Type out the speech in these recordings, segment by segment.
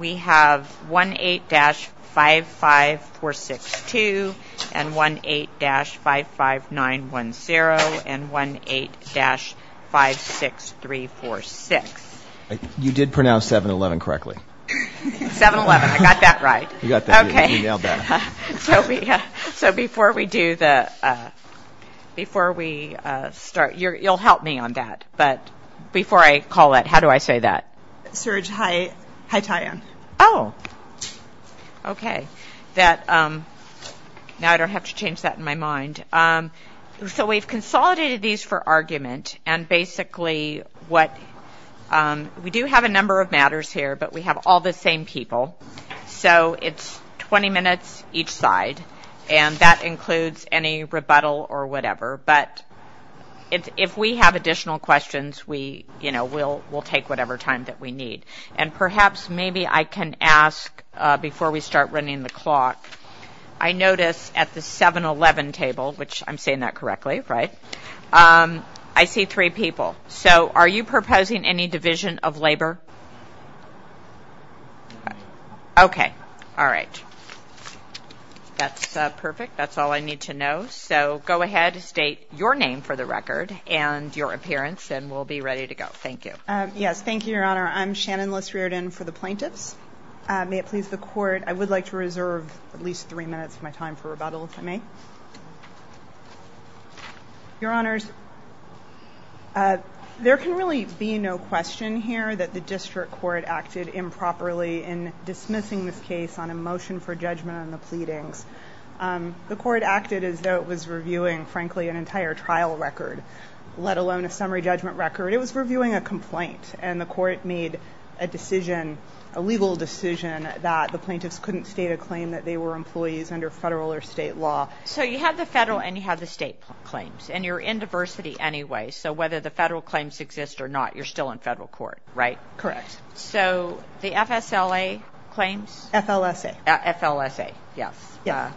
We have 1-8-55462 and 1-8-55910 and 1-8-56346. You did pronounce 7-Eleven correctly. 7-Eleven, I got that right. You nailed that. So before we do the, before we start, you'll help me on that, but before I call it, how do I say that? Serge Haitayan. Oh, okay. Now I don't have to change that in my mind. So we've consolidated these for argument, and basically what, we do have a number of matters here, but we have all the same people, so it's 20 minutes each side, and that includes any rebuttal or whatever, but if we have additional questions, we, you know, we'll take whatever time that we need. And perhaps maybe I can ask, before we start running the clock, I notice at the 7-Eleven table, which I'm saying that correctly, right, I see three people. So are you proposing any division of labor? Okay. All right. That's perfect. That's all I need to know. So go ahead, state your name for the record and your appearance, and we'll be ready to go. Thank you. Yes, thank you, Your Honor. I'm Shannon Liss-Riordan for the plaintiffs. May it please the Court, I would like to reserve at least three minutes of my time for rebuttal, if I may. Your Honors, there can really be no question here that the district court acted improperly in dismissing this case on a motion for judgment on the pleadings. The court acted as though it was reviewing, frankly, an entire trial record, let alone a summary judgment record. It was reviewing a complaint, and the court made a decision, a legal decision, that the plaintiffs couldn't state a claim that they were employees under federal or state law. So you have the federal and you have the state claims, and you're in diversity anyway, so whether the federal claims exist or not, you're still in federal court, right? Correct. So the FSLA claims? FLSA. FLSA, yes. Yeah.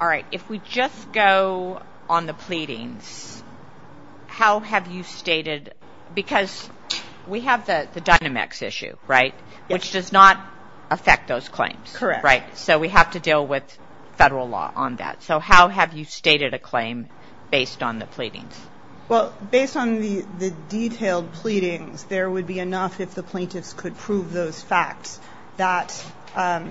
All right. If we just go on the pleadings, how have you stated, because we have the Dynamex issue, right, which does not affect those claims, right? Correct. So we have to deal with federal law on that. So how have you stated a claim based on the pleadings? Well, based on the detailed pleadings, there would be enough if the plaintiffs could prove those facts that a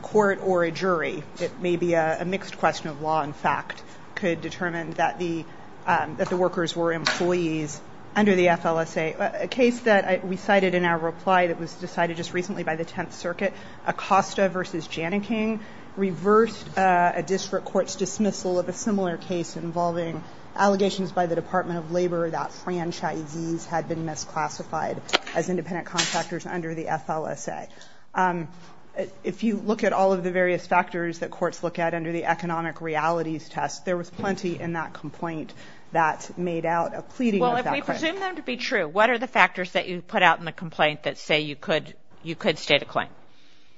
court or a jury, it may be a mixed question of law and fact, could determine that the workers were employees under the FLSA. A case that we cited in our reply that was decided just recently by the Tenth Circuit, Acosta v. Janneking, reversed a district court's dismissal of a similar case involving allegations by the Department of Labor that franchisees had been misclassified as independent contractors under the FLSA. If you look at all of the various factors that courts look at under the economic realities test, there was plenty in that complaint that made out a pleading of that claim. Well, if we presume them to be true, what are the factors that you put out in the complaint that say you could state a claim?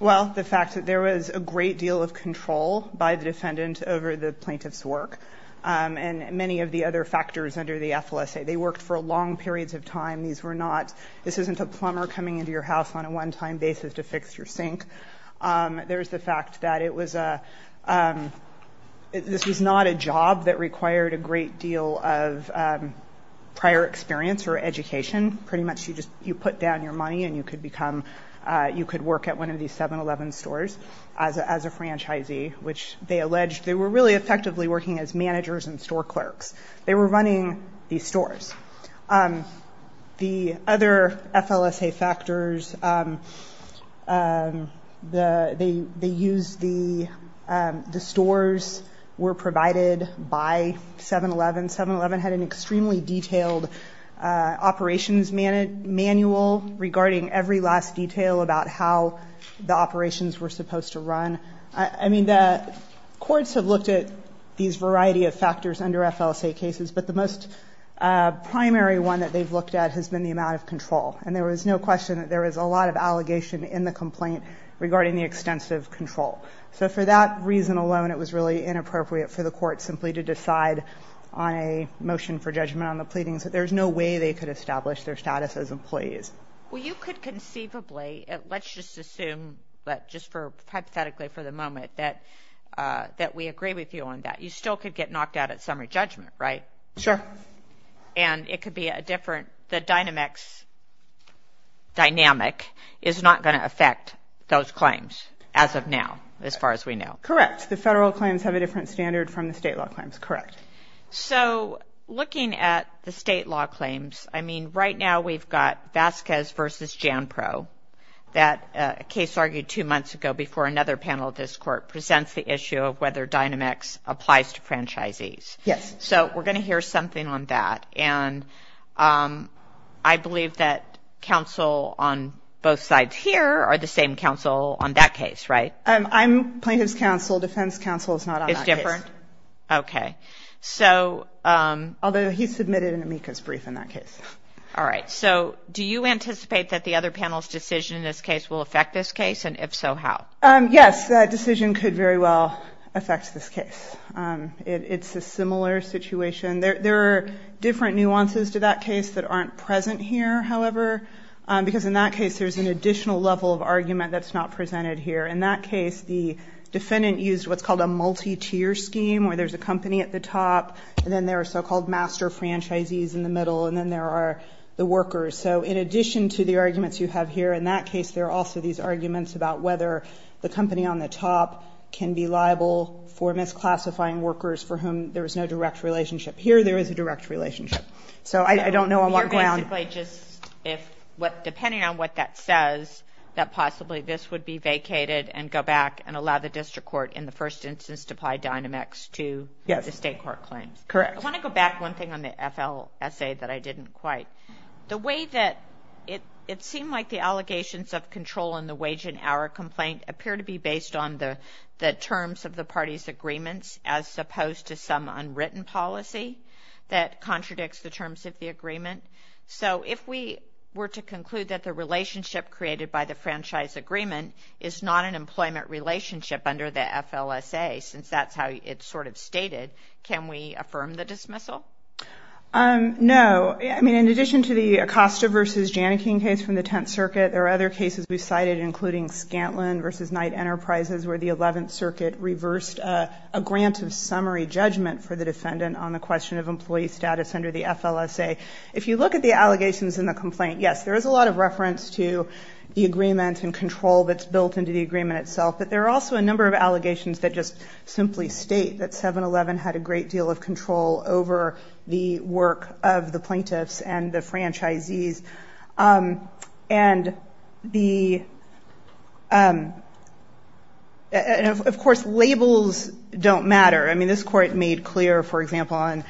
Well, the fact that there was a great deal of control by the defendant over the plaintiff's work and many of the other factors under the FLSA. They worked for long periods of time. This isn't a plumber coming into your house on a one-time basis to fix your sink. There's the fact that this was not a job that required a great deal of prior experience or education. Pretty much you put down your money and you could work at one of these 7-Eleven stores as a franchisee, which they alleged they were really effectively working as managers and store clerks. They were running these stores. The other FLSA factors, they used the stores were provided by 7-Eleven. 7-Eleven had an extremely detailed operations manual regarding every last detail about how the operations were supposed to run. I mean, the courts have looked at these variety of factors under FLSA cases, but the most primary one that they've looked at has been the amount of control. And there was no question that there was a lot of allegation in the complaint regarding the extensive control. So for that reason alone, it was really inappropriate for the court simply to decide on a motion for judgment on the pleadings. There's no way they could establish their status as employees. Well, you could conceivably, let's just assume that just for hypothetically for the moment, that we agree with you on that. You still could get knocked out at summary judgment, right? Sure. And it could be a different, the dynamics, dynamic is not going to affect those claims as of now, as far as we know. Correct. The federal claims have a different standard from the state law claims. Correct. So looking at the state law claims, I mean, right now we've got Vasquez versus Jan Pro, that case argued two months ago before another panel of this court presents the issue of whether Dynamics applies to franchisees. Yes. So we're going to hear something on that. And I believe that counsel on both sides here are the same counsel on that case, right? I'm plaintiff's counsel, defense counsel is not on that case. Okay. So. Although he submitted an amicus brief in that case. All right. So do you anticipate that the other panel's decision in this case will affect this case? And if so, how? Yes, that decision could very well affect this case. It's a similar situation. There are different nuances to that case that aren't present here, however, because in that case there's an additional level of argument that's not presented here. In that case the defendant used what's called a multi-tier scheme where there's a company at the top and then there are so-called master franchisees in the middle and then there are the workers. So in addition to the arguments you have here in that case, there are also these arguments about whether the company on the top can be liable for misclassifying workers for whom there is no direct relationship. Here there is a direct relationship. So I don't know on what ground. Depending on what that says, that possibly this would be vacated and go back and allow the district court in the first instance to apply Dynamex to the state court claims. Correct. I want to go back one thing on the FLSA that I didn't quite. The way that it seemed like the allegations of control in the wage and hour complaint appeared to be based on the terms of the party's agreements as opposed to some unwritten policy that contradicts the terms of the agreement. So if we were to conclude that the relationship created by the franchise agreement is not an employment relationship under the FLSA, since that's how it's sort of stated, can we affirm the dismissal? No. I mean, in addition to the Acosta v. Janneke case from the Tenth Circuit, there are other cases we've cited including Scantlin v. Knight Enterprises where the Eleventh Circuit reversed a grant of summary judgment for the defendant on the question of employee status under the FLSA. If you look at the allegations in the complaint, yes, there is a lot of reference to the agreement and control that's built into the agreement itself, but there are also a number of allegations that just simply state that 7-Eleven had a great deal of control over the work of the plaintiffs and the franchisees. And of course, labels don't matter. I mean, this Court made clear, for example, on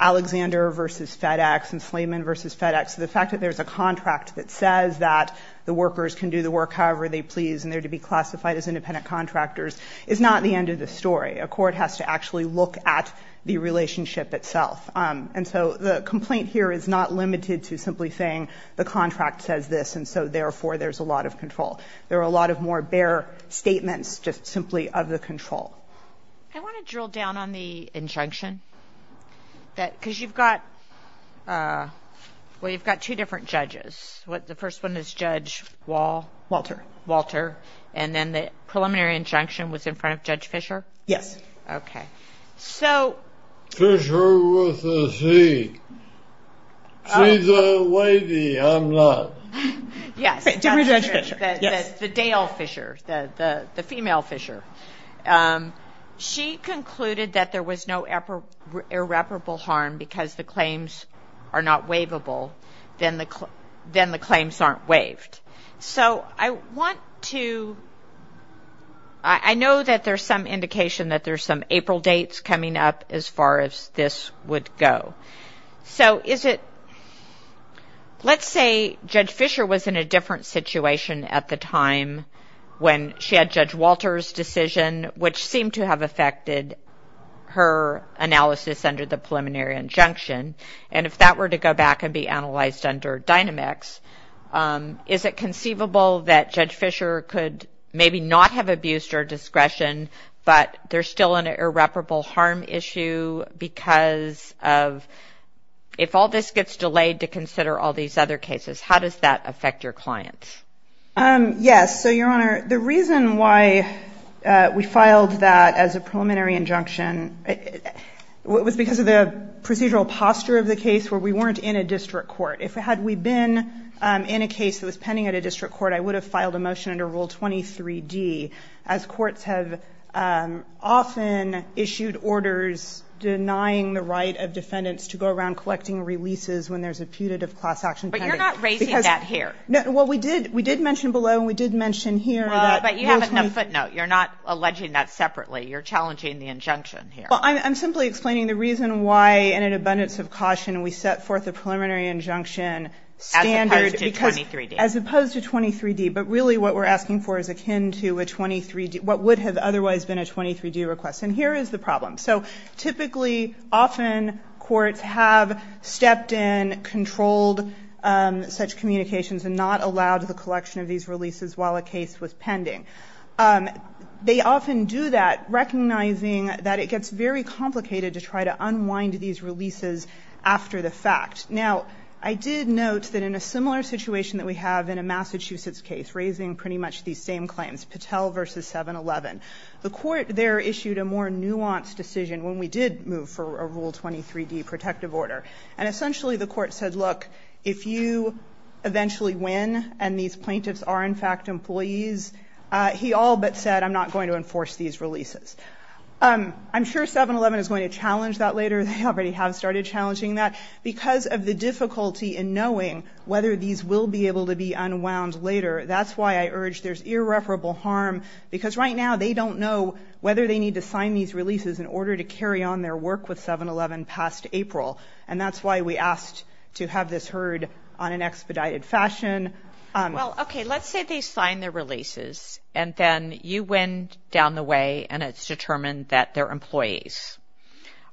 Alexander v. FedEx and Slayman v. FedEx, the fact that there's a contract that says that the workers can do the work however they please and they're to be classified as independent contractors is not the end of the story. A court has to actually look at the relationship itself. And so the complaint here is not limited to simply saying the contract says this and so therefore there's a lot of control. There are a lot of more bare statements just simply of the control. I want to drill down on the injunction because you've got two different judges. The first one is Judge Walter and then the preliminary injunction was in front of Judge Fischer? Yes. Okay. Fischer was a C. She's a lady. I'm not. The Dale Fischer, the female Fischer. She concluded that there was no irreparable harm because the claims are not waivable, then the claims aren't waived. So I want to – I know that there's some indication that there's some April dates coming up as far as this would go. So is it – let's say Judge Fischer was in a different situation at the time when she had Judge Walter's decision, which seemed to have affected her analysis under the preliminary injunction. And if that were to go back and be analyzed under Dynamics, is it conceivable that Judge Fischer could maybe not have abused her discretion but there's still an irreparable harm issue because of – if all this gets delayed to consider all these other cases, how does that affect your clients? Yes. So, Your Honor, the reason why we filed that as a preliminary injunction was because of the procedural posture of the case where we weren't in a district court. If we had been in a case that was pending at a district court, I would have filed a motion under Rule 23D, as courts have often issued orders denying the right of defendants to go around collecting releases when there's a putative class action pending. But you're not raising that here. Well, we did mention below and we did mention here that – But you have a footnote. You're not alleging that separately. You're challenging the injunction here. Well, I'm simply explaining the reason why, in an abundance of caution, we set forth a preliminary injunction standard – As opposed to 23D. But really what we're asking for is akin to a 23D – what would have otherwise been a 23D request. And here is the problem. So typically, often, courts have stepped in, controlled such communications and not allowed the collection of these releases while a case was pending. They often do that, recognizing that it gets very complicated to try to unwind these releases after the fact. Now, I did note that in a similar situation that we have in a Massachusetts case, raising pretty much these same claims, Patel v. 7-11, the court there issued a more nuanced decision when we did move for a Rule 23D protective order. And essentially the court said, look, if you eventually win and these plaintiffs are, in fact, employees, he all but said, I'm not going to enforce these releases. I'm sure 7-11 is going to challenge that later. They already have started challenging that. Because of the difficulty in knowing whether these will be able to be unwound later, that's why I urge there's irreparable harm, because right now they don't know whether they need to sign these releases in order to carry on their work with 7-11 past April. And that's why we asked to have this heard on an expedited fashion. Well, okay, let's say they sign their releases and then you win down the way and it's determined that they're employees.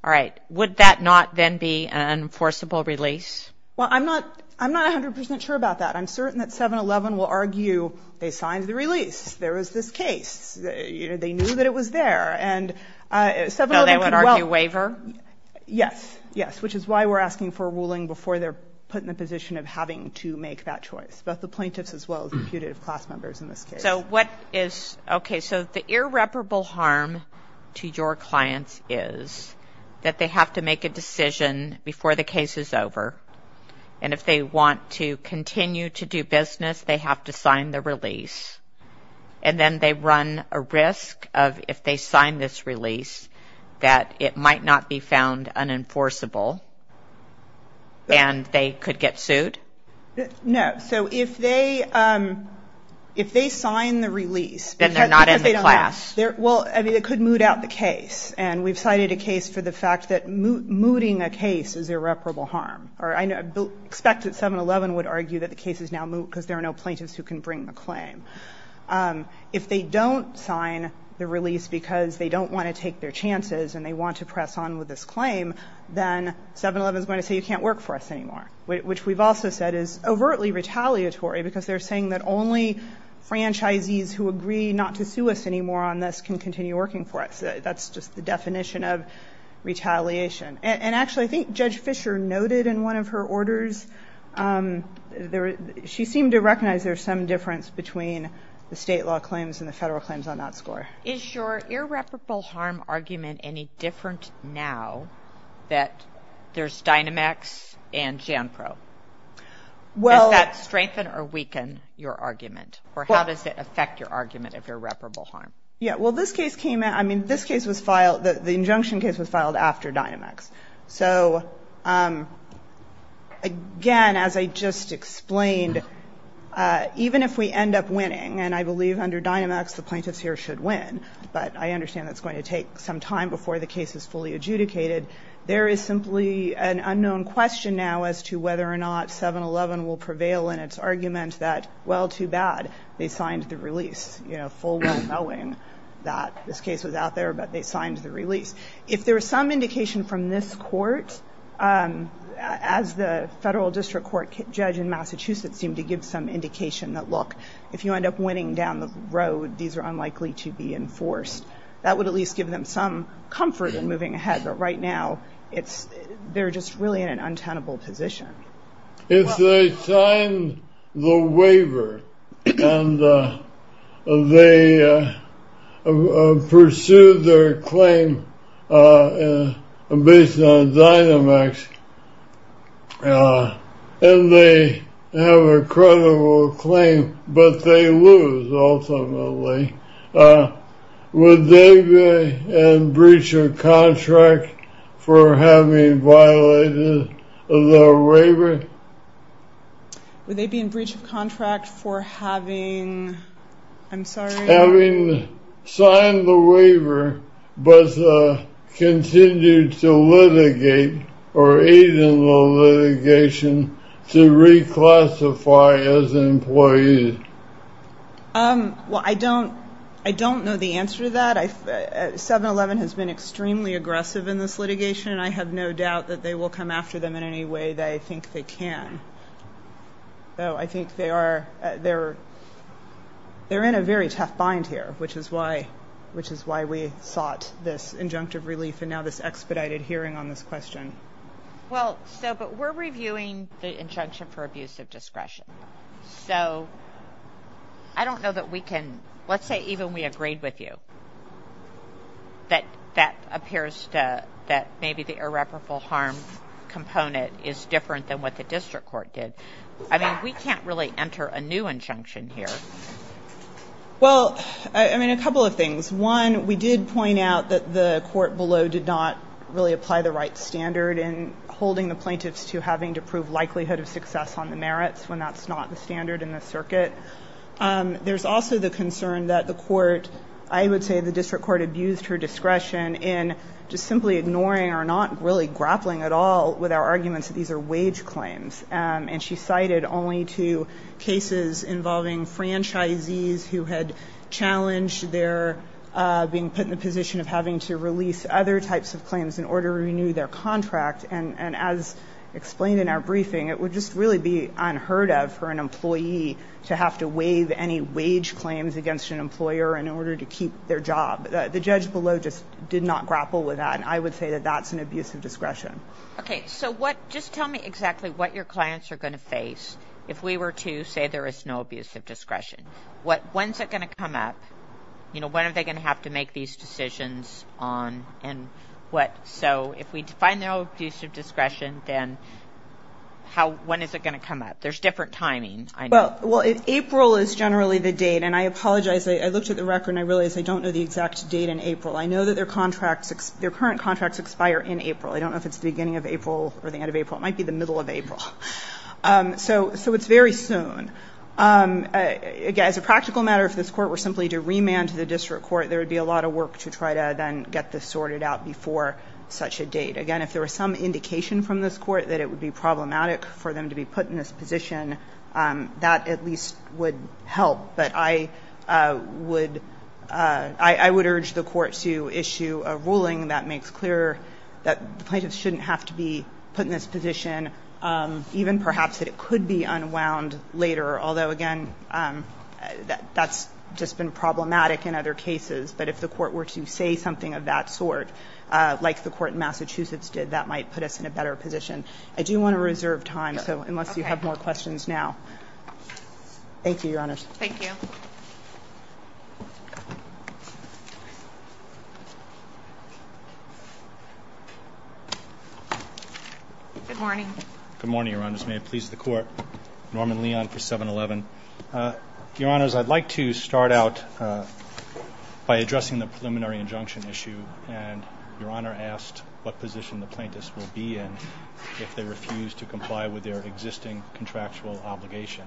All right. Would that not then be an enforceable release? Well, I'm not 100 percent sure about that. I'm certain that 7-11 will argue they signed the release. There was this case. They knew that it was there. And 7-11 could well ---- So they would argue waiver? Yes. Yes. Which is why we're asking for a ruling before they're put in the position of having to make that choice, both the plaintiffs as well as the putative class members in this case. Okay. So the irreparable harm to your clients is that they have to make a decision before the case is over. And if they want to continue to do business, they have to sign the release. And then they run a risk of, if they sign this release, that it might not be found unenforceable and they could get sued? No. So if they sign the release ---- Then they're not in the class. Well, it could moot out the case. And we've cited a case for the fact that mooting a case is irreparable harm. I expect that 7-11 would argue that the case is now moot because there are no plaintiffs who can bring the claim. If they don't sign the release because they don't want to take their chances and they want to press on with this claim, then 7-11 is going to say you can't work for us anymore, which we've also said is overtly retaliatory because they're saying that only franchisees who agree not to sue us anymore on this can continue working for us. That's just the definition of retaliation. And actually, I think Judge Fischer noted in one of her orders, she seemed to recognize there's some difference between the state law claims and the federal claims on that score. Is your irreparable harm argument any different now that there's Dynamex and JANPRO? Does that strengthen or weaken your argument? Or how does it affect your argument of irreparable harm? Yeah, well, this case came in ---- I mean, this case was filed ---- the injunction case was filed after Dynamex. So, again, as I just explained, even if we end up winning, and I believe under Dynamex the plaintiffs here should win, but I understand that's going to take some time before the case is fully adjudicated, there is simply an unknown question now as to whether or not 7-11 will prevail in its argument that, well, too bad, they signed the release, you know, full well knowing that this case was out there, but they signed the release. If there is some indication from this court, as the federal district court judge in Massachusetts seemed to give some indication that, look, if you end up winning down the road, these are unlikely to be enforced, that would at least give them some comfort in moving ahead, but right now they're just really in an untenable position. If they signed the waiver and they pursued their claim based on Dynamex and they have a credible claim, but they lose ultimately, would they be in breach of contract for having violated the waiver? Would they be in breach of contract for having, I'm sorry? Having signed the waiver, but continued to litigate or aid in the litigation to reclassify as an employee? Well, I don't know the answer to that. 7-11 has been extremely aggressive in this litigation, and I have no doubt that they will come after them in any way that I think they can. Though I think they're in a very tough bind here, which is why we sought this injunctive relief and now this expedited hearing on this question. Well, but we're reviewing the injunction for abuse of discretion. So I don't know that we can, let's say even we agreed with you, that that appears that maybe the irreparable harm component is different than what the district court did. I mean, we can't really enter a new injunction here. Well, I mean, a couple of things. One, we did point out that the court below did not really apply the right standard in holding the plaintiffs to having to prove likelihood of success on the merits when that's not the standard in the circuit. There's also the concern that the court, I would say the district court, abused her discretion in just simply ignoring or not really grappling at all with our arguments that these are wage claims. And she cited only two cases involving franchisees who had challenged their being put in the position of having to release other types of claims in order to renew their contract. And as explained in our briefing, it would just really be unheard of for an employee to have to waive any wage claims against an employer in order to keep their job. The judge below just did not grapple with that. And I would say that that's an abuse of discretion. Okay. So just tell me exactly what your clients are going to face if we were to say there is no abuse of discretion. When's it going to come up? When are they going to have to make these decisions? So if we define no abuse of discretion, then when is it going to come up? There's different timing. Well, April is generally the date. And I apologize. I looked at the record and I realized I don't know the exact date in April. I know that their contracts, their current contracts expire in April. I don't know if it's the beginning of April or the end of April. It might be the middle of April. So it's very soon. Again, as a practical matter, if this Court were simply to remand to the district court, there would be a lot of work to try to then get this sorted out before such a date. Again, if there were some indication from this Court that it would be problematic for them to be put in this position, that at least would help. But I would urge the Court to issue a ruling that makes clear that plaintiffs shouldn't have to be put in this position, even perhaps that it could be unwound later, although, again, that's just been problematic in other cases. But if the Court were to say something of that sort, like the Court in Massachusetts did, that might put us in a better position. I do want to reserve time, so unless you have more questions now. Thank you, Your Honors. Thank you. Good morning. Good morning, Your Honors. May it please the Court. Norman Leon for 711. Your Honors, I'd like to start out by addressing the preliminary injunction issue. And Your Honor asked what position the plaintiffs will be in if they refuse to comply with their existing contractual obligation.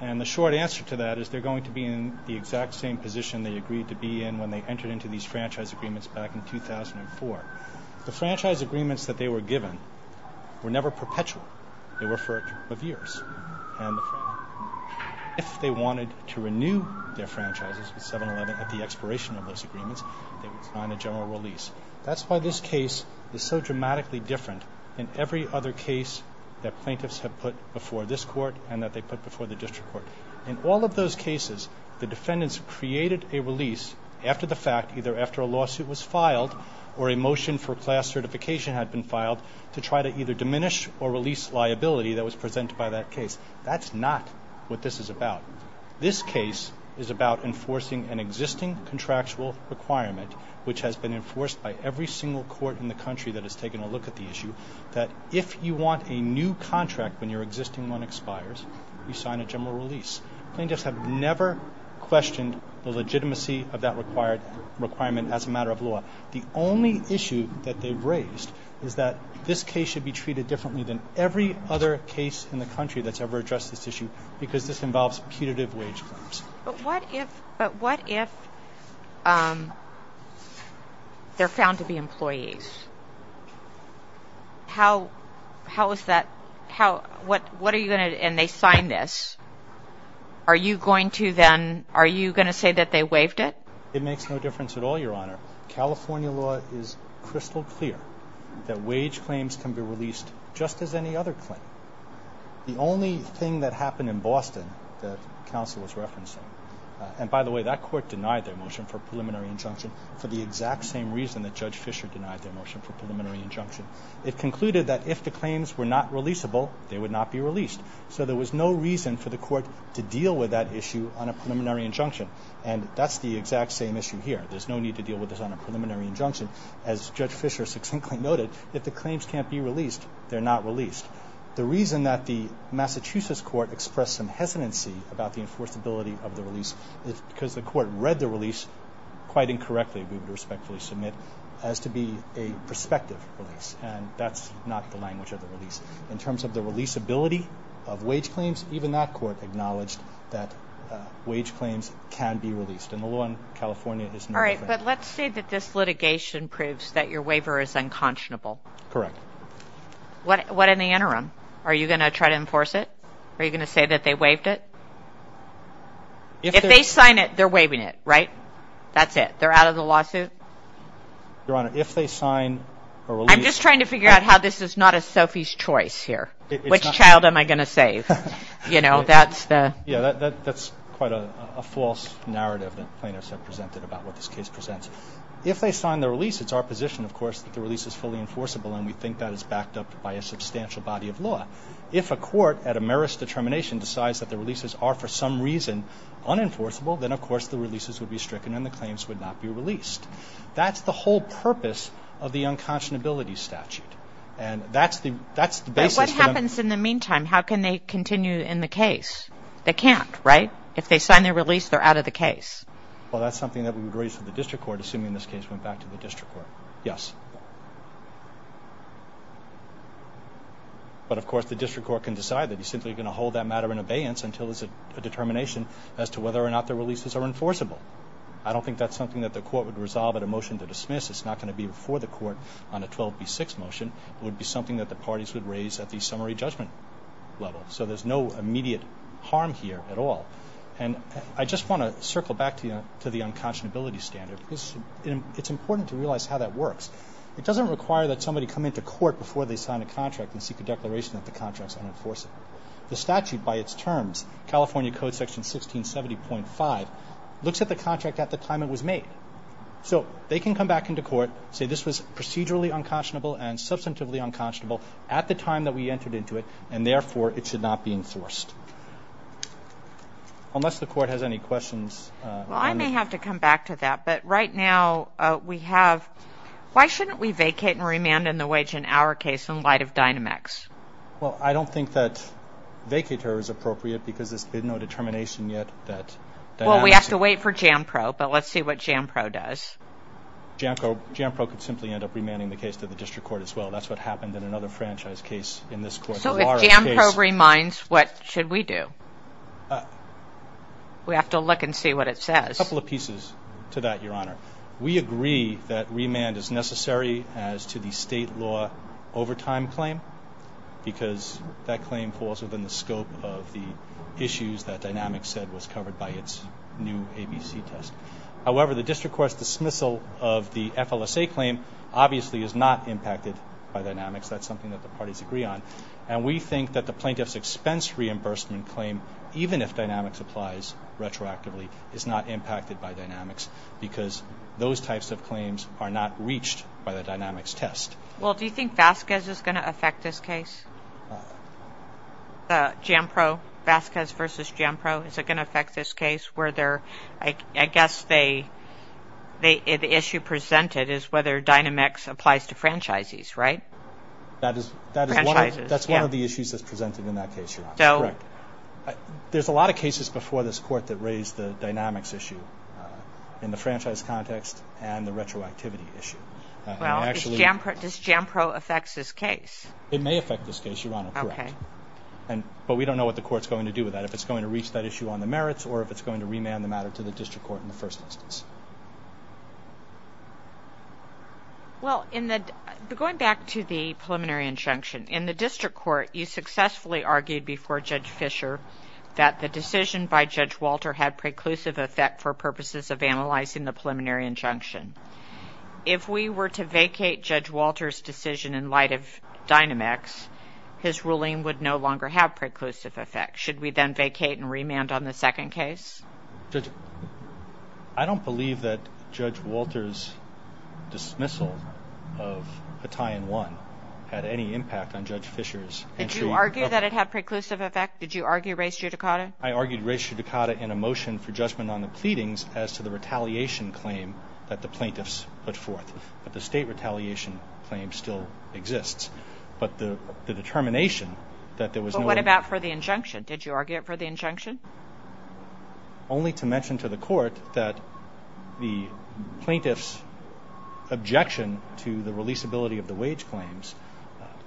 And the short answer to that is they're going to be in the exact same position they agreed to be in when they entered into these franchise agreements back in 2004. The franchise agreements that they were given were never perpetual. They were for a group of years. And if they wanted to renew their franchises with 711 at the expiration of those agreements, they would sign a general release. That's why this case is so dramatically different in every other case that In all of those cases, the defendants created a release after the fact, either after a lawsuit was filed or a motion for class certification had been filed, to try to either diminish or release liability that was presented by that case. That's not what this is about. This case is about enforcing an existing contractual requirement, which has been enforced by every single court in the country that has taken a look at the issue, that if you want a new contract when your existing one expires, you sign a general release. Plaintiffs have never questioned the legitimacy of that requirement as a matter of law. The only issue that they've raised is that this case should be treated differently than every other case in the country that's ever addressed this issue because this involves putative wage claims. But what if they're found to be employees? What are you going to do? And they signed this. Are you going to say that they waived it? It makes no difference at all, Your Honor. California law is crystal clear that wage claims can be released just as any other claim. The only thing that happened in Boston that counsel was referencing, and by the way, that court denied their motion for preliminary injunction for the exact same reason that Judge Fisher denied their motion for preliminary injunction. It concluded that if the claims were not releasable, they would not be released. So there was no reason for the court to deal with that issue on a preliminary injunction. And that's the exact same issue here. There's no need to deal with this on a preliminary injunction. As Judge Fisher succinctly noted, if the claims can't be released, they're not released. The reason that the Massachusetts court expressed some hesitancy about the enforceability of the release is because the court read the release quite incorrectly. The only thing that they agreed to respectfully submit has to be a prospective release. And that's not the language of the release. In terms of the releasability of wage claims, even that court acknowledged that wage claims can be released. And the law in California is no different. All right, but let's say that this litigation proves that your waiver is unconscionable. Correct. What in the interim? Are you going to try to enforce it? Are you going to say that they waived it? If they sign it, they're waiving it, right? That's it? They're out of the lawsuit? Your Honor, if they sign a release. I'm just trying to figure out how this is not a Sophie's choice here. Which child am I going to save? You know, that's the. Yeah, that's quite a false narrative that plaintiffs have presented about what this case presents. If they sign the release, it's our position, of course, that the release is fully enforceable, and we think that is backed up by a substantial body of law. If a court at a merest determination decides that the releases are for some reason unenforceable, then, of course, the releases would be stricken and the claims would not be released. That's the whole purpose of the unconscionability statute, and that's the basis. What happens in the meantime? How can they continue in the case? They can't, right? If they sign their release, they're out of the case. Well, that's something that we would raise to the district court, assuming this case went back to the district court. Yes. But, of course, the district court can decide that. They're simply going to hold that matter in abeyance until there's a determination as to whether or not their releases are enforceable. I don't think that's something that the court would resolve at a motion to dismiss. It's not going to be before the court on a 12B6 motion. It would be something that the parties would raise at the summary judgment level. So there's no immediate harm here at all. And I just want to circle back to the unconscionability standard because it's important to realize how that works. It doesn't require that somebody come into court before they sign a contract and seek a declaration that the contract is unenforceable. The statute, by its terms, California Code Section 1670.5, looks at the contract at the time it was made. So they can come back into court, say this was procedurally unconscionable and substantively unconscionable at the time that we entered into it, and, therefore, it should not be enforced. Unless the court has any questions. Well, I may have to come back to that. But right now we have why shouldn't we vacate and remand in the wage in our next? Well, I don't think that vacater is appropriate because there's been no determination yet that. Well, we have to wait for JAMPRO, but let's see what JAMPRO does. JAMPRO could simply end up remanding the case to the district court as well. That's what happened in another franchise case in this court. So if JAMPRO remands, what should we do? We have to look and see what it says. A couple of pieces to that, Your Honor. We agree that remand is necessary as to the state law overtime claim because that claim falls within the scope of the issues that Dynamics said was covered by its new ABC test. However, the district court's dismissal of the FLSA claim obviously is not impacted by Dynamics. That's something that the parties agree on. And we think that the plaintiff's expense reimbursement claim, even if Dynamics applies retroactively, is not impacted by Dynamics because those types of claims are not reached by the Dynamics test. Well, do you think Vasquez is going to affect this case? JAMPRO, Vasquez v. JAMPRO, is it going to affect this case? I guess the issue presented is whether Dynamics applies to franchises, right? That's one of the issues that's presented in that case, Your Honor. There's a lot of cases before this court that raised the Dynamics issue in the franchise context and the retroactivity issue. Does JAMPRO affect this case? It may affect this case, Your Honor. But we don't know what the court's going to do with that, if it's going to reach that issue on the merits or if it's going to remand the matter to the district court in the first instance. Going back to the preliminary injunction, in the district court you successfully argued before Judge Fischer that the decision by Judge Walter had preclusive effect for purposes of analyzing the preliminary injunction. If we were to vacate Judge Walter's decision in light of Dynamics, his ruling would no longer have preclusive effect. Should we then vacate and remand on the second case? I don't believe that Judge Walter's dismissal of Hattayan 1 had any impact on Judge Fischer's entry. Did you argue that it had preclusive effect? Did you argue res judicata? I argued res judicata in a motion for judgment on the pleadings as to the retaliation claim that the plaintiffs put forth. But the state retaliation claim still exists. But the determination that there was no... only to mention to the court that the plaintiffs' objection to the releasability of the wage claims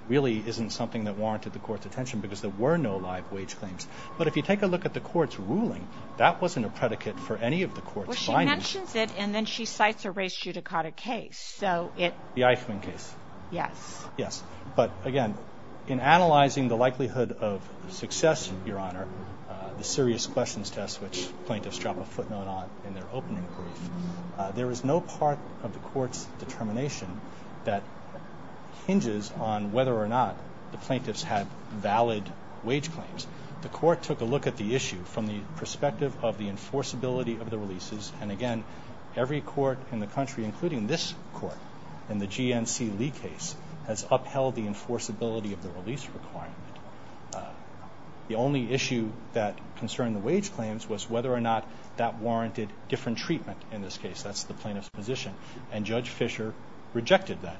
really isn't something that warranted the court's attention because there were no live wage claims. But if you take a look at the court's ruling, that wasn't a predicate for any of the court's findings. Well, she mentions it and then she cites a res judicata case. The Eichmann case. Yes. But, again, in analyzing the likelihood of success, Your Honor, the serious questions test, which plaintiffs drop a footnote on in their opening brief, there is no part of the court's determination that hinges on whether or not the plaintiffs had valid wage claims. The court took a look at the issue from the perspective of the enforceability of the releases. And, again, every court in the country, including this court in the GNC Lee case, has upheld the enforceability of the release requirement. The only issue that concerned the wage claims was whether or not that warranted different treatment in this case. That's the plaintiff's position. And Judge Fisher rejected that.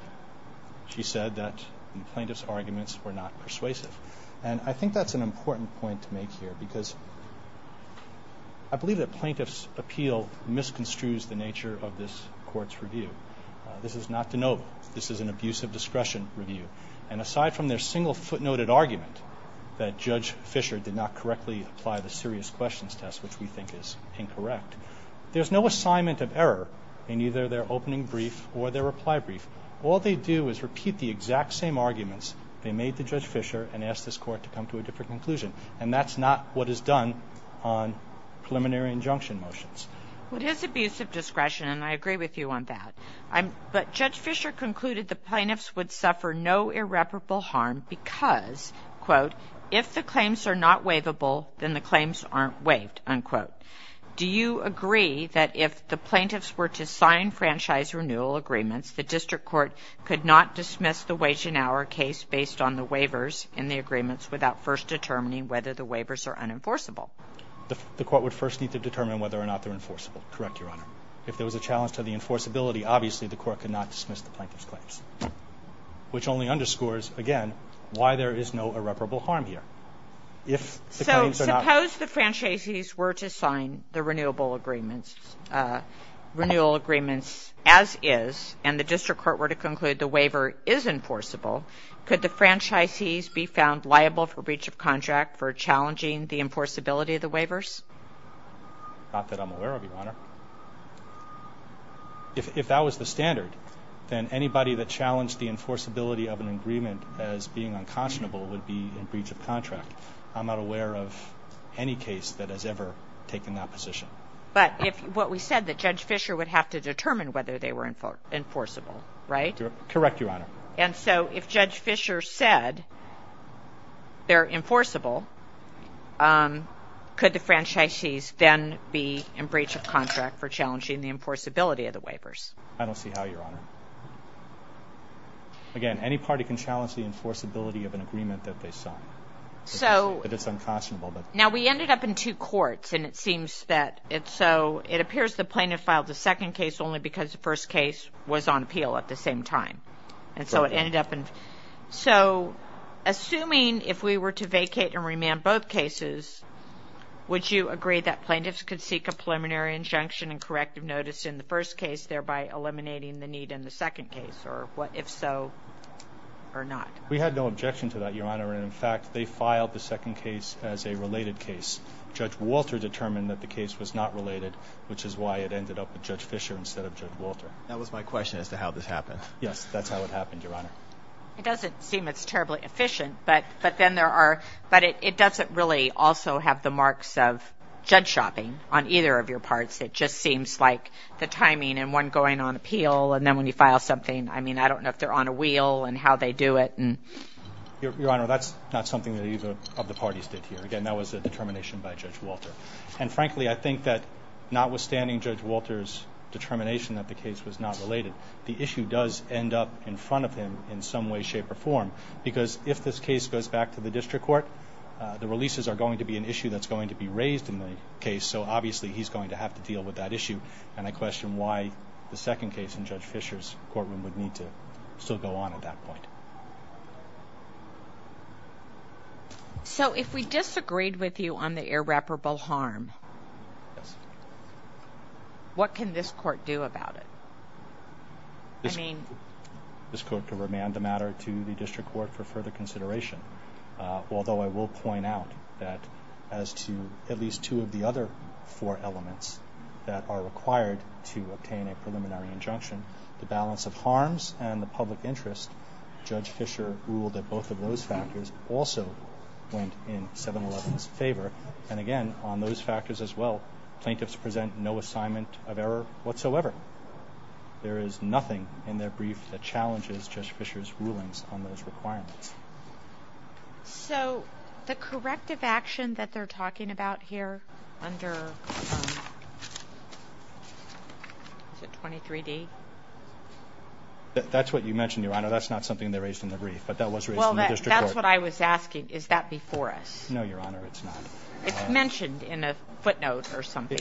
She said that the plaintiff's arguments were not persuasive. And I think that's an important point to make here because I believe that plaintiff's appeal misconstrues the nature of this court's review. This is not de novo. This is an abuse of discretion review. And aside from their single footnoted argument that Judge Fisher did not correctly apply the serious questions test, which we think is incorrect, there's no assignment of error in either their opening brief or their reply brief. All they do is repeat the exact same arguments they made to Judge Fisher and ask this court to come to a different conclusion. And that's not what is done on preliminary injunction motions. Well, it is abuse of discretion, and I agree with you on that. But Judge Fisher concluded the plaintiffs would suffer no irreparable harm because, quote, if the claims are not waivable, then the claims aren't waived, unquote. Do you agree that if the plaintiffs were to sign franchise renewal agreements, the district court could not dismiss the wage and hour case based on the waivers in the agreements without first determining whether the waivers are unenforceable? The court would first need to determine whether or not they're enforceable. Correct, Your Honor. If there was a challenge to the enforceability, obviously the court could not dismiss the plaintiffs' claims, which only underscores, again, why there is no irreparable harm here. So suppose the franchisees were to sign the renewal agreements as is and the district court were to conclude the waiver is enforceable, could the franchisees be found liable for breach of contract for challenging the enforceability of the waivers? Not that I'm aware of, Your Honor. If that was the standard, then anybody that challenged the enforceability of an agreement as being unconscionable would be in breach of contract. I'm not aware of any case that has ever taken that position. But what we said, that Judge Fischer would have to determine whether they were enforceable, right? Correct, Your Honor. And so if Judge Fischer said they're enforceable, could the franchisees then be in breach of contract for challenging the enforceability of the waivers? I don't see how, Your Honor. Again, any party can challenge the enforceability of an agreement that they sign if it's unconscionable. Now, we ended up in two courts, and it seems that it's so... It appears the plaintiff filed the second case only because the first case was on appeal at the same time. And so it ended up in... So assuming if we were to vacate and remand both cases, would you agree that plaintiffs could seek a preliminary injunction and corrective notice in the first case, thereby eliminating the need in the second case? Or what if so, or not? We had no objection to that, Your Honor. And in fact, they filed the second case as a related case. Judge Walter determined that the case was not related, which is why it ended up with Judge Fischer instead of Judge Walter. That was my question as to how this happened. Yes, that's how it happened, Your Honor. It doesn't seem it's terribly efficient, but it doesn't really also have the marks of judge shopping on either of your parts. It just seems like the timing and one going on appeal, and then when you file something, I mean, I don't know if they're on a wheel and how they do it. Your Honor, that's not something that either of the parties did here. Again, that was a determination by Judge Walter. And frankly, I think that notwithstanding Judge Walter's determination that the case was not related, the issue does end up in front of him in some way, shape, or form. Because if this case goes back to the district court, the releases are going to be an issue that's going to be raised in the case, so obviously he's going to have to deal with that issue. And I question why the second case in Judge Fischer's courtroom would need to still go on at that point. So if we disagreed with you on the irreparable harm, what can this court do about it? This court can remand the matter to the district court for further consideration. Although I will point out that as to at least two of the other four elements that are required to obtain a preliminary injunction, the balance of harms and the public interest, Judge Fischer ruled that both of those factors also went in 7-11's favor. And again, on those factors as well, plaintiffs present no assignment of error whatsoever. There is nothing in their brief that challenges Judge Fischer's rulings on those requirements. So the corrective action that they're talking about here under 23D? That's what you mentioned, Your Honor. That's not something they raised in the brief, but that was raised in the district court. Well, that's what I was asking. Is that before us? No, Your Honor, it's not. It's mentioned in a footnote or something.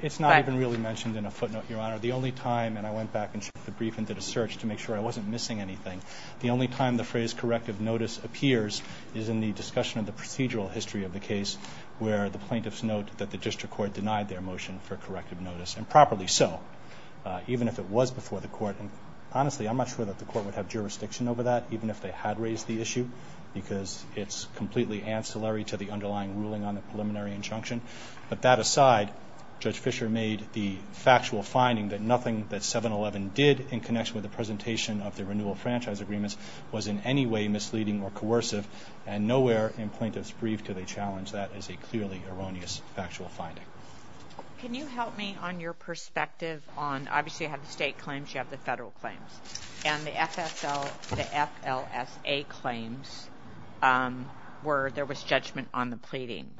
It's not even really mentioned in a footnote, Your Honor. The only time, and I went back and checked the brief and did a search to make sure I wasn't missing anything, the only time the phrase corrective notice appears is in the discussion of the procedural history of the case where the plaintiffs note that the district court denied their motion for corrective notice, and properly so, even if it was before the court. And honestly, I'm not sure that the court would have jurisdiction over that, even if they had raised the issue, because it's completely ancillary to the underlying ruling on the preliminary injunction. But that aside, Judge Fischer made the factual finding that nothing that 711 did in connection with the presentation of the renewal franchise agreements was in any way misleading or coercive, and nowhere in plaintiffs' brief do they challenge that as a clearly erroneous factual finding. Can you help me on your perspective on, obviously you have the state claims, you have the federal claims, and the FLSA claims where there was judgment on the pleading.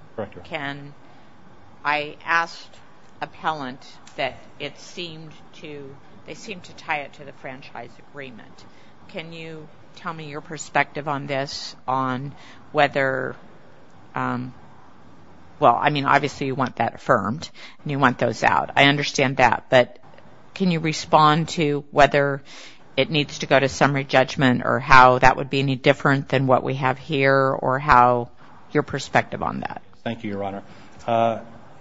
I asked appellant that it seemed to tie it to the franchise agreement. Can you tell me your perspective on this, on whether, well, I mean, obviously you want that affirmed and you want those out. I understand that. But can you respond to whether it needs to go to summary judgment or how that would be any different than what we have here or how your perspective on that? Thank you, Your Honor.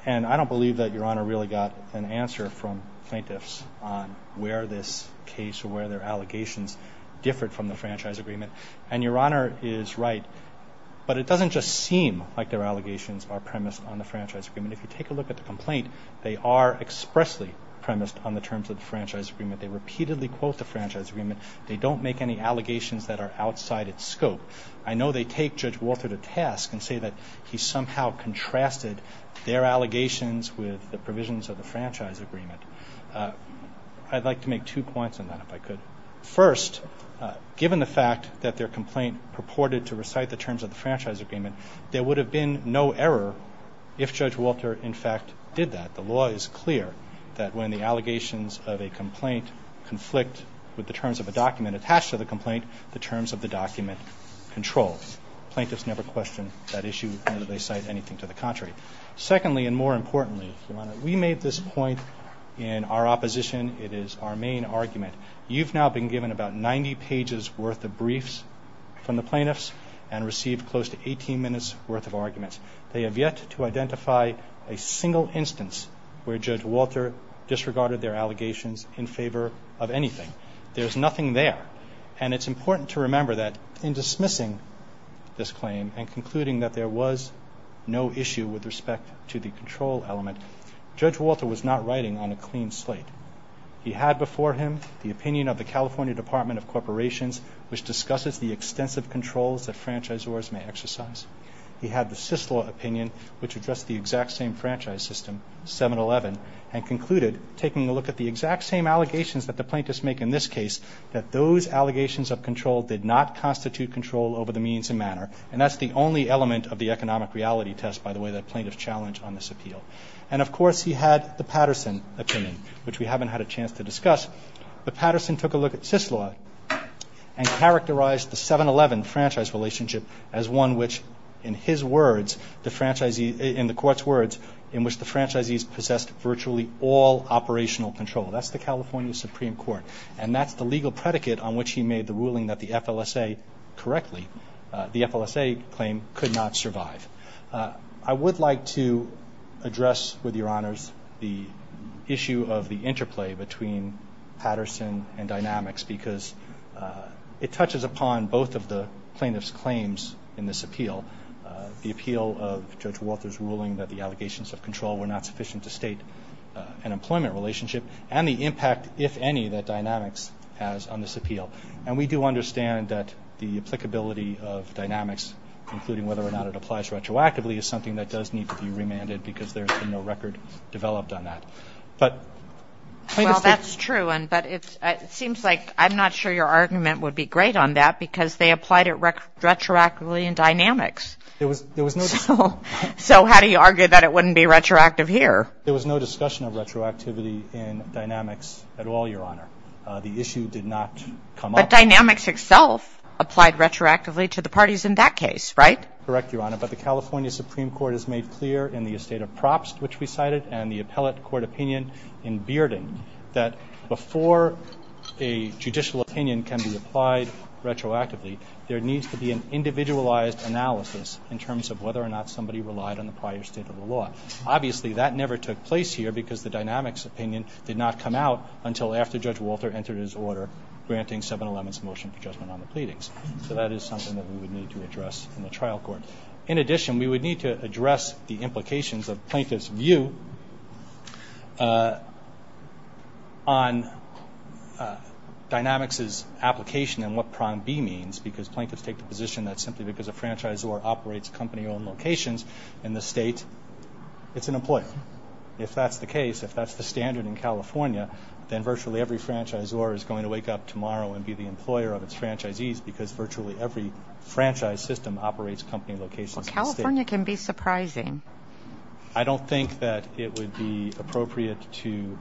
And I don't believe that Your Honor really got an answer from plaintiffs on where this case or where their allegations differed from the franchise agreement. And Your Honor is right, but it doesn't just seem like their allegations are premised on the franchise agreement. If you take a look at the complaint, they are expressly premised on the terms of the franchise agreement. They repeatedly quote the franchise agreement. They don't make any allegations that are outside its scope. I know they take Judge Walter to task and say that he somehow contrasted their allegations with the provisions of the franchise agreement. I'd like to make two points on that, if I could. First, given the fact that their complaint purported to recite the terms of the franchise agreement, there would have been no error if Judge Walter, in fact, did that. The law is clear that when the allegations of a complaint conflict with the terms of a document attached to the complaint, the terms of the document control. Plaintiffs never question that issue, nor do they cite anything to the contrary. Secondly, and more importantly, Your Honor, we made this point in our opposition. It is our main argument. You've now been given about 90 pages worth of briefs from the plaintiffs and received close to 18 minutes worth of arguments. They have yet to identify a single instance where Judge Walter disregarded their allegations in favor of anything. There's nothing there. And it's important to remember that in dismissing this claim and concluding that there was no issue with respect to the control element, Judge Walter was not writing on a clean slate. He had before him the opinion of the California Department of Corporations, which discusses the extensive controls that franchisors may exercise. He had the Syslaw opinion, which addressed the exact same franchise system, 7-11, and concluded, taking a look at the exact same allegations that the plaintiffs make in this case, that those allegations of control did not constitute control over the means and manner. And that's the only element of the economic reality test, by the way, that plaintiffs challenge on this appeal. And, of course, he had the Patterson opinion, which we haven't had a chance to discuss. But Patterson took a look at Syslaw and characterized the 7-11 franchise relationship as one which, in his words, in the court's words, in which the franchisees possessed virtually all operational control. That's the California Supreme Court. And that's the legal predicate on which he made the ruling that the FLSA correctly, the FLSA claim, could not survive. I would like to address with your honors the issue of the interplay between Patterson and Dynamics, because it touches upon both of the plaintiffs' claims in this appeal, the appeal of Judge Walters' ruling that the allegations of control were not sufficient to state an employment relationship, and the impact, if any, that Dynamics has on this appeal. And we do understand that the applicability of Dynamics, including whether or not it applies retroactively, is something that does need to be remanded because there's been no record developed on that. Well, that's true, but it seems like I'm not sure your argument would be great on that because they applied it retroactively in Dynamics. So how do you argue that it wouldn't be retroactive here? There was no discussion of retroactivity in Dynamics at all, Your Honor. The issue did not come up. But Dynamics itself applied retroactively to the parties in that case, right? Correct, Your Honor, but the California Supreme Court has made clear in the estate of props which we cited and the appellate court opinion in Bearden that before a judicial opinion can be applied retroactively, there needs to be an individualized analysis in terms of whether or not somebody relied on the prior state of the law. Obviously, that never took place here because the Dynamics opinion did not come out until after Judge Walter entered his order granting 711's motion for judgment on the pleadings. So that is something that we would need to address in the trial court. In addition, we would need to address the implications of plaintiff's view on Dynamics' application and what Prime B means because plaintiffs take the position that simply because a franchisor operates company-owned locations in the state, it's an employer. If that's the case, if that's the standard in California, then virtually every franchisor is going to wake up tomorrow and be the employer of its franchisees because virtually every franchise system operates company locations in the state. California can be surprising. I don't think that it would be appropriate to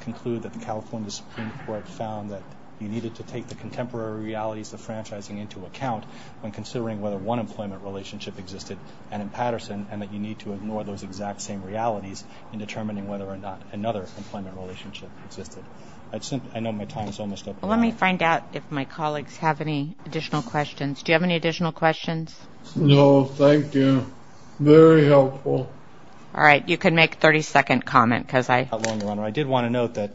conclude that the California Supreme Court found that you needed to take the contemporary realities of franchising into account when considering whether one employment relationship existed and in Patterson and that you need to ignore those exact same realities in determining whether or not another employment relationship existed. I know my time is almost up. Let me find out if my colleagues have any additional questions. Do you have any additional questions? No, thank you. Very helpful. All right, you can make a 30-second comment. I did want to note that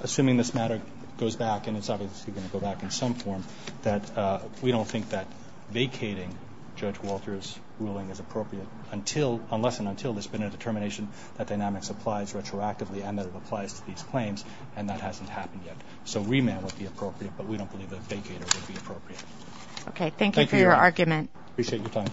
assuming this matter goes back, and it's obviously going to go back in some form, that we don't think that vacating Judge Walter's ruling is appropriate unless and until there's been a determination that Dynamics applies retroactively and that it applies to these claims, and that hasn't happened yet. So remand would be appropriate, but we don't believe that vacater would be appropriate. Okay, thank you for your argument. Appreciate your time.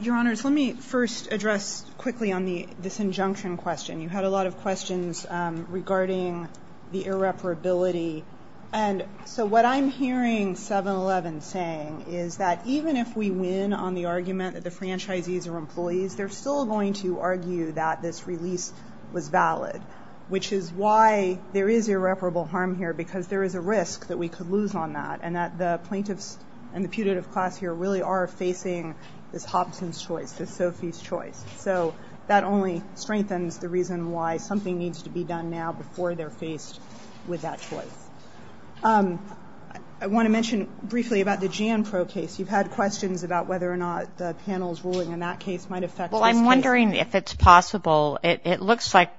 Your Honors, let me first address quickly on this injunction question. You had a lot of questions regarding the irreparability. And so what I'm hearing 7-11 saying is that even if we win on the argument that the franchisees are employees, they're still going to argue that this release was valid, which is why there is irreparable harm here, because there is a risk that we could lose on that and that the plaintiffs and the putative class here really are facing this Hobson's choice, this Sophie's choice. So that only strengthens the reason why something needs to be done now before they're faced with that choice. I want to mention briefly about the Jan Pro case. You've had questions about whether or not the panel's ruling in that case might affect this case. Well, I'm wondering if it's possible. It looks like,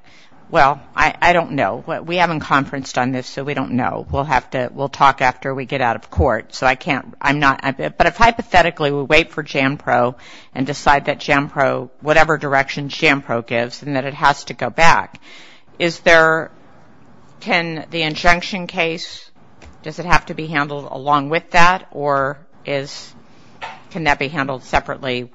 well, I don't know. We haven't conferenced on this, so we don't know. We'll talk after we get out of court. But if hypothetically we wait for Jan Pro and decide that Jan Pro, whatever direction Jan Pro gives and that it has to go back, can the injunction case, does it have to be handled along with that, or can that be handled separately?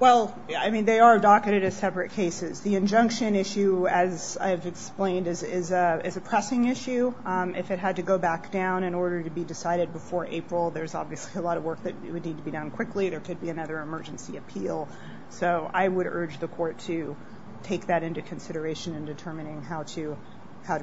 Well, I mean, they are docketed as separate cases. The injunction issue, as I've explained, is a pressing issue. If it had to go back down in order to be decided before April, there's obviously a lot of work that would need to be done quickly. There could be another emergency appeal. So I would urge the court to take that into consideration in determining how to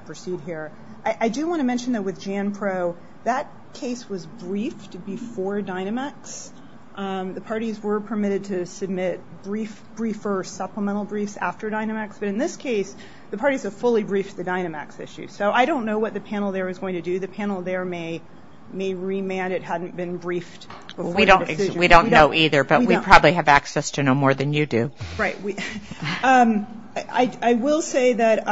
proceed here. I do want to mention, though, with Jan Pro, that case was briefed before Dynamax. The parties were permitted to submit briefer supplemental briefs after Dynamax. But in this case, the parties have fully briefed the Dynamax issue. So I don't know what the panel there is going to do. The panel there may remand it hadn't been briefed before the decision. We don't know either, but we probably have access to know more than you do. Right. I will say that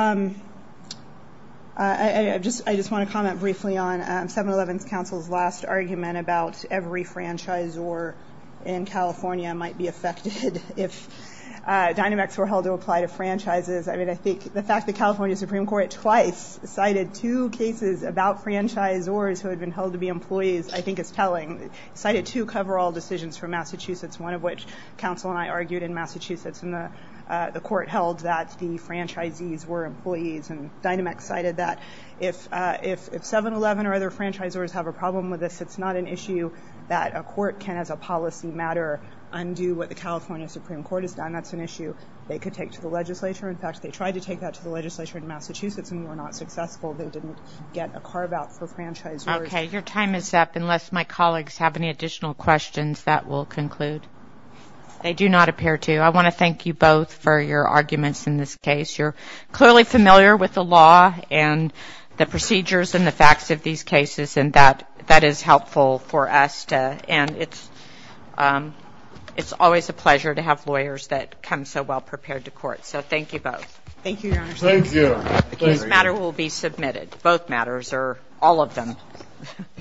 I just want to comment briefly on 7-Eleven's counsel's last argument about every franchisor in California might be affected if Dynamax were held to apply to franchises. I mean, I think the fact that California Supreme Court twice cited two cases about franchisors who had been held to be employees I think is telling. It cited two cover-all decisions from Massachusetts, one of which counsel and I argued in Massachusetts, and the court held that the franchisees were employees, and Dynamax cited that if 7-Eleven or other franchisors have a problem with this, it's not an issue that a court can, as a policy matter, undo what the California Supreme Court has done. That's an issue they could take to the legislature. In fact, they tried to take that to the legislature in Massachusetts and were not successful. They didn't get a carve-out for franchisors. Okay. Your time is up. Unless my colleagues have any additional questions, that will conclude. They do not appear to. I want to thank you both for your arguments in this case. You're clearly familiar with the law and the procedures and the facts of these cases, and that is helpful for us, and it's always a pleasure to have lawyers that come so well prepared to court. So thank you both. Thank you, Your Honor. Thank you. This matter will be submitted. Both matters or all of them.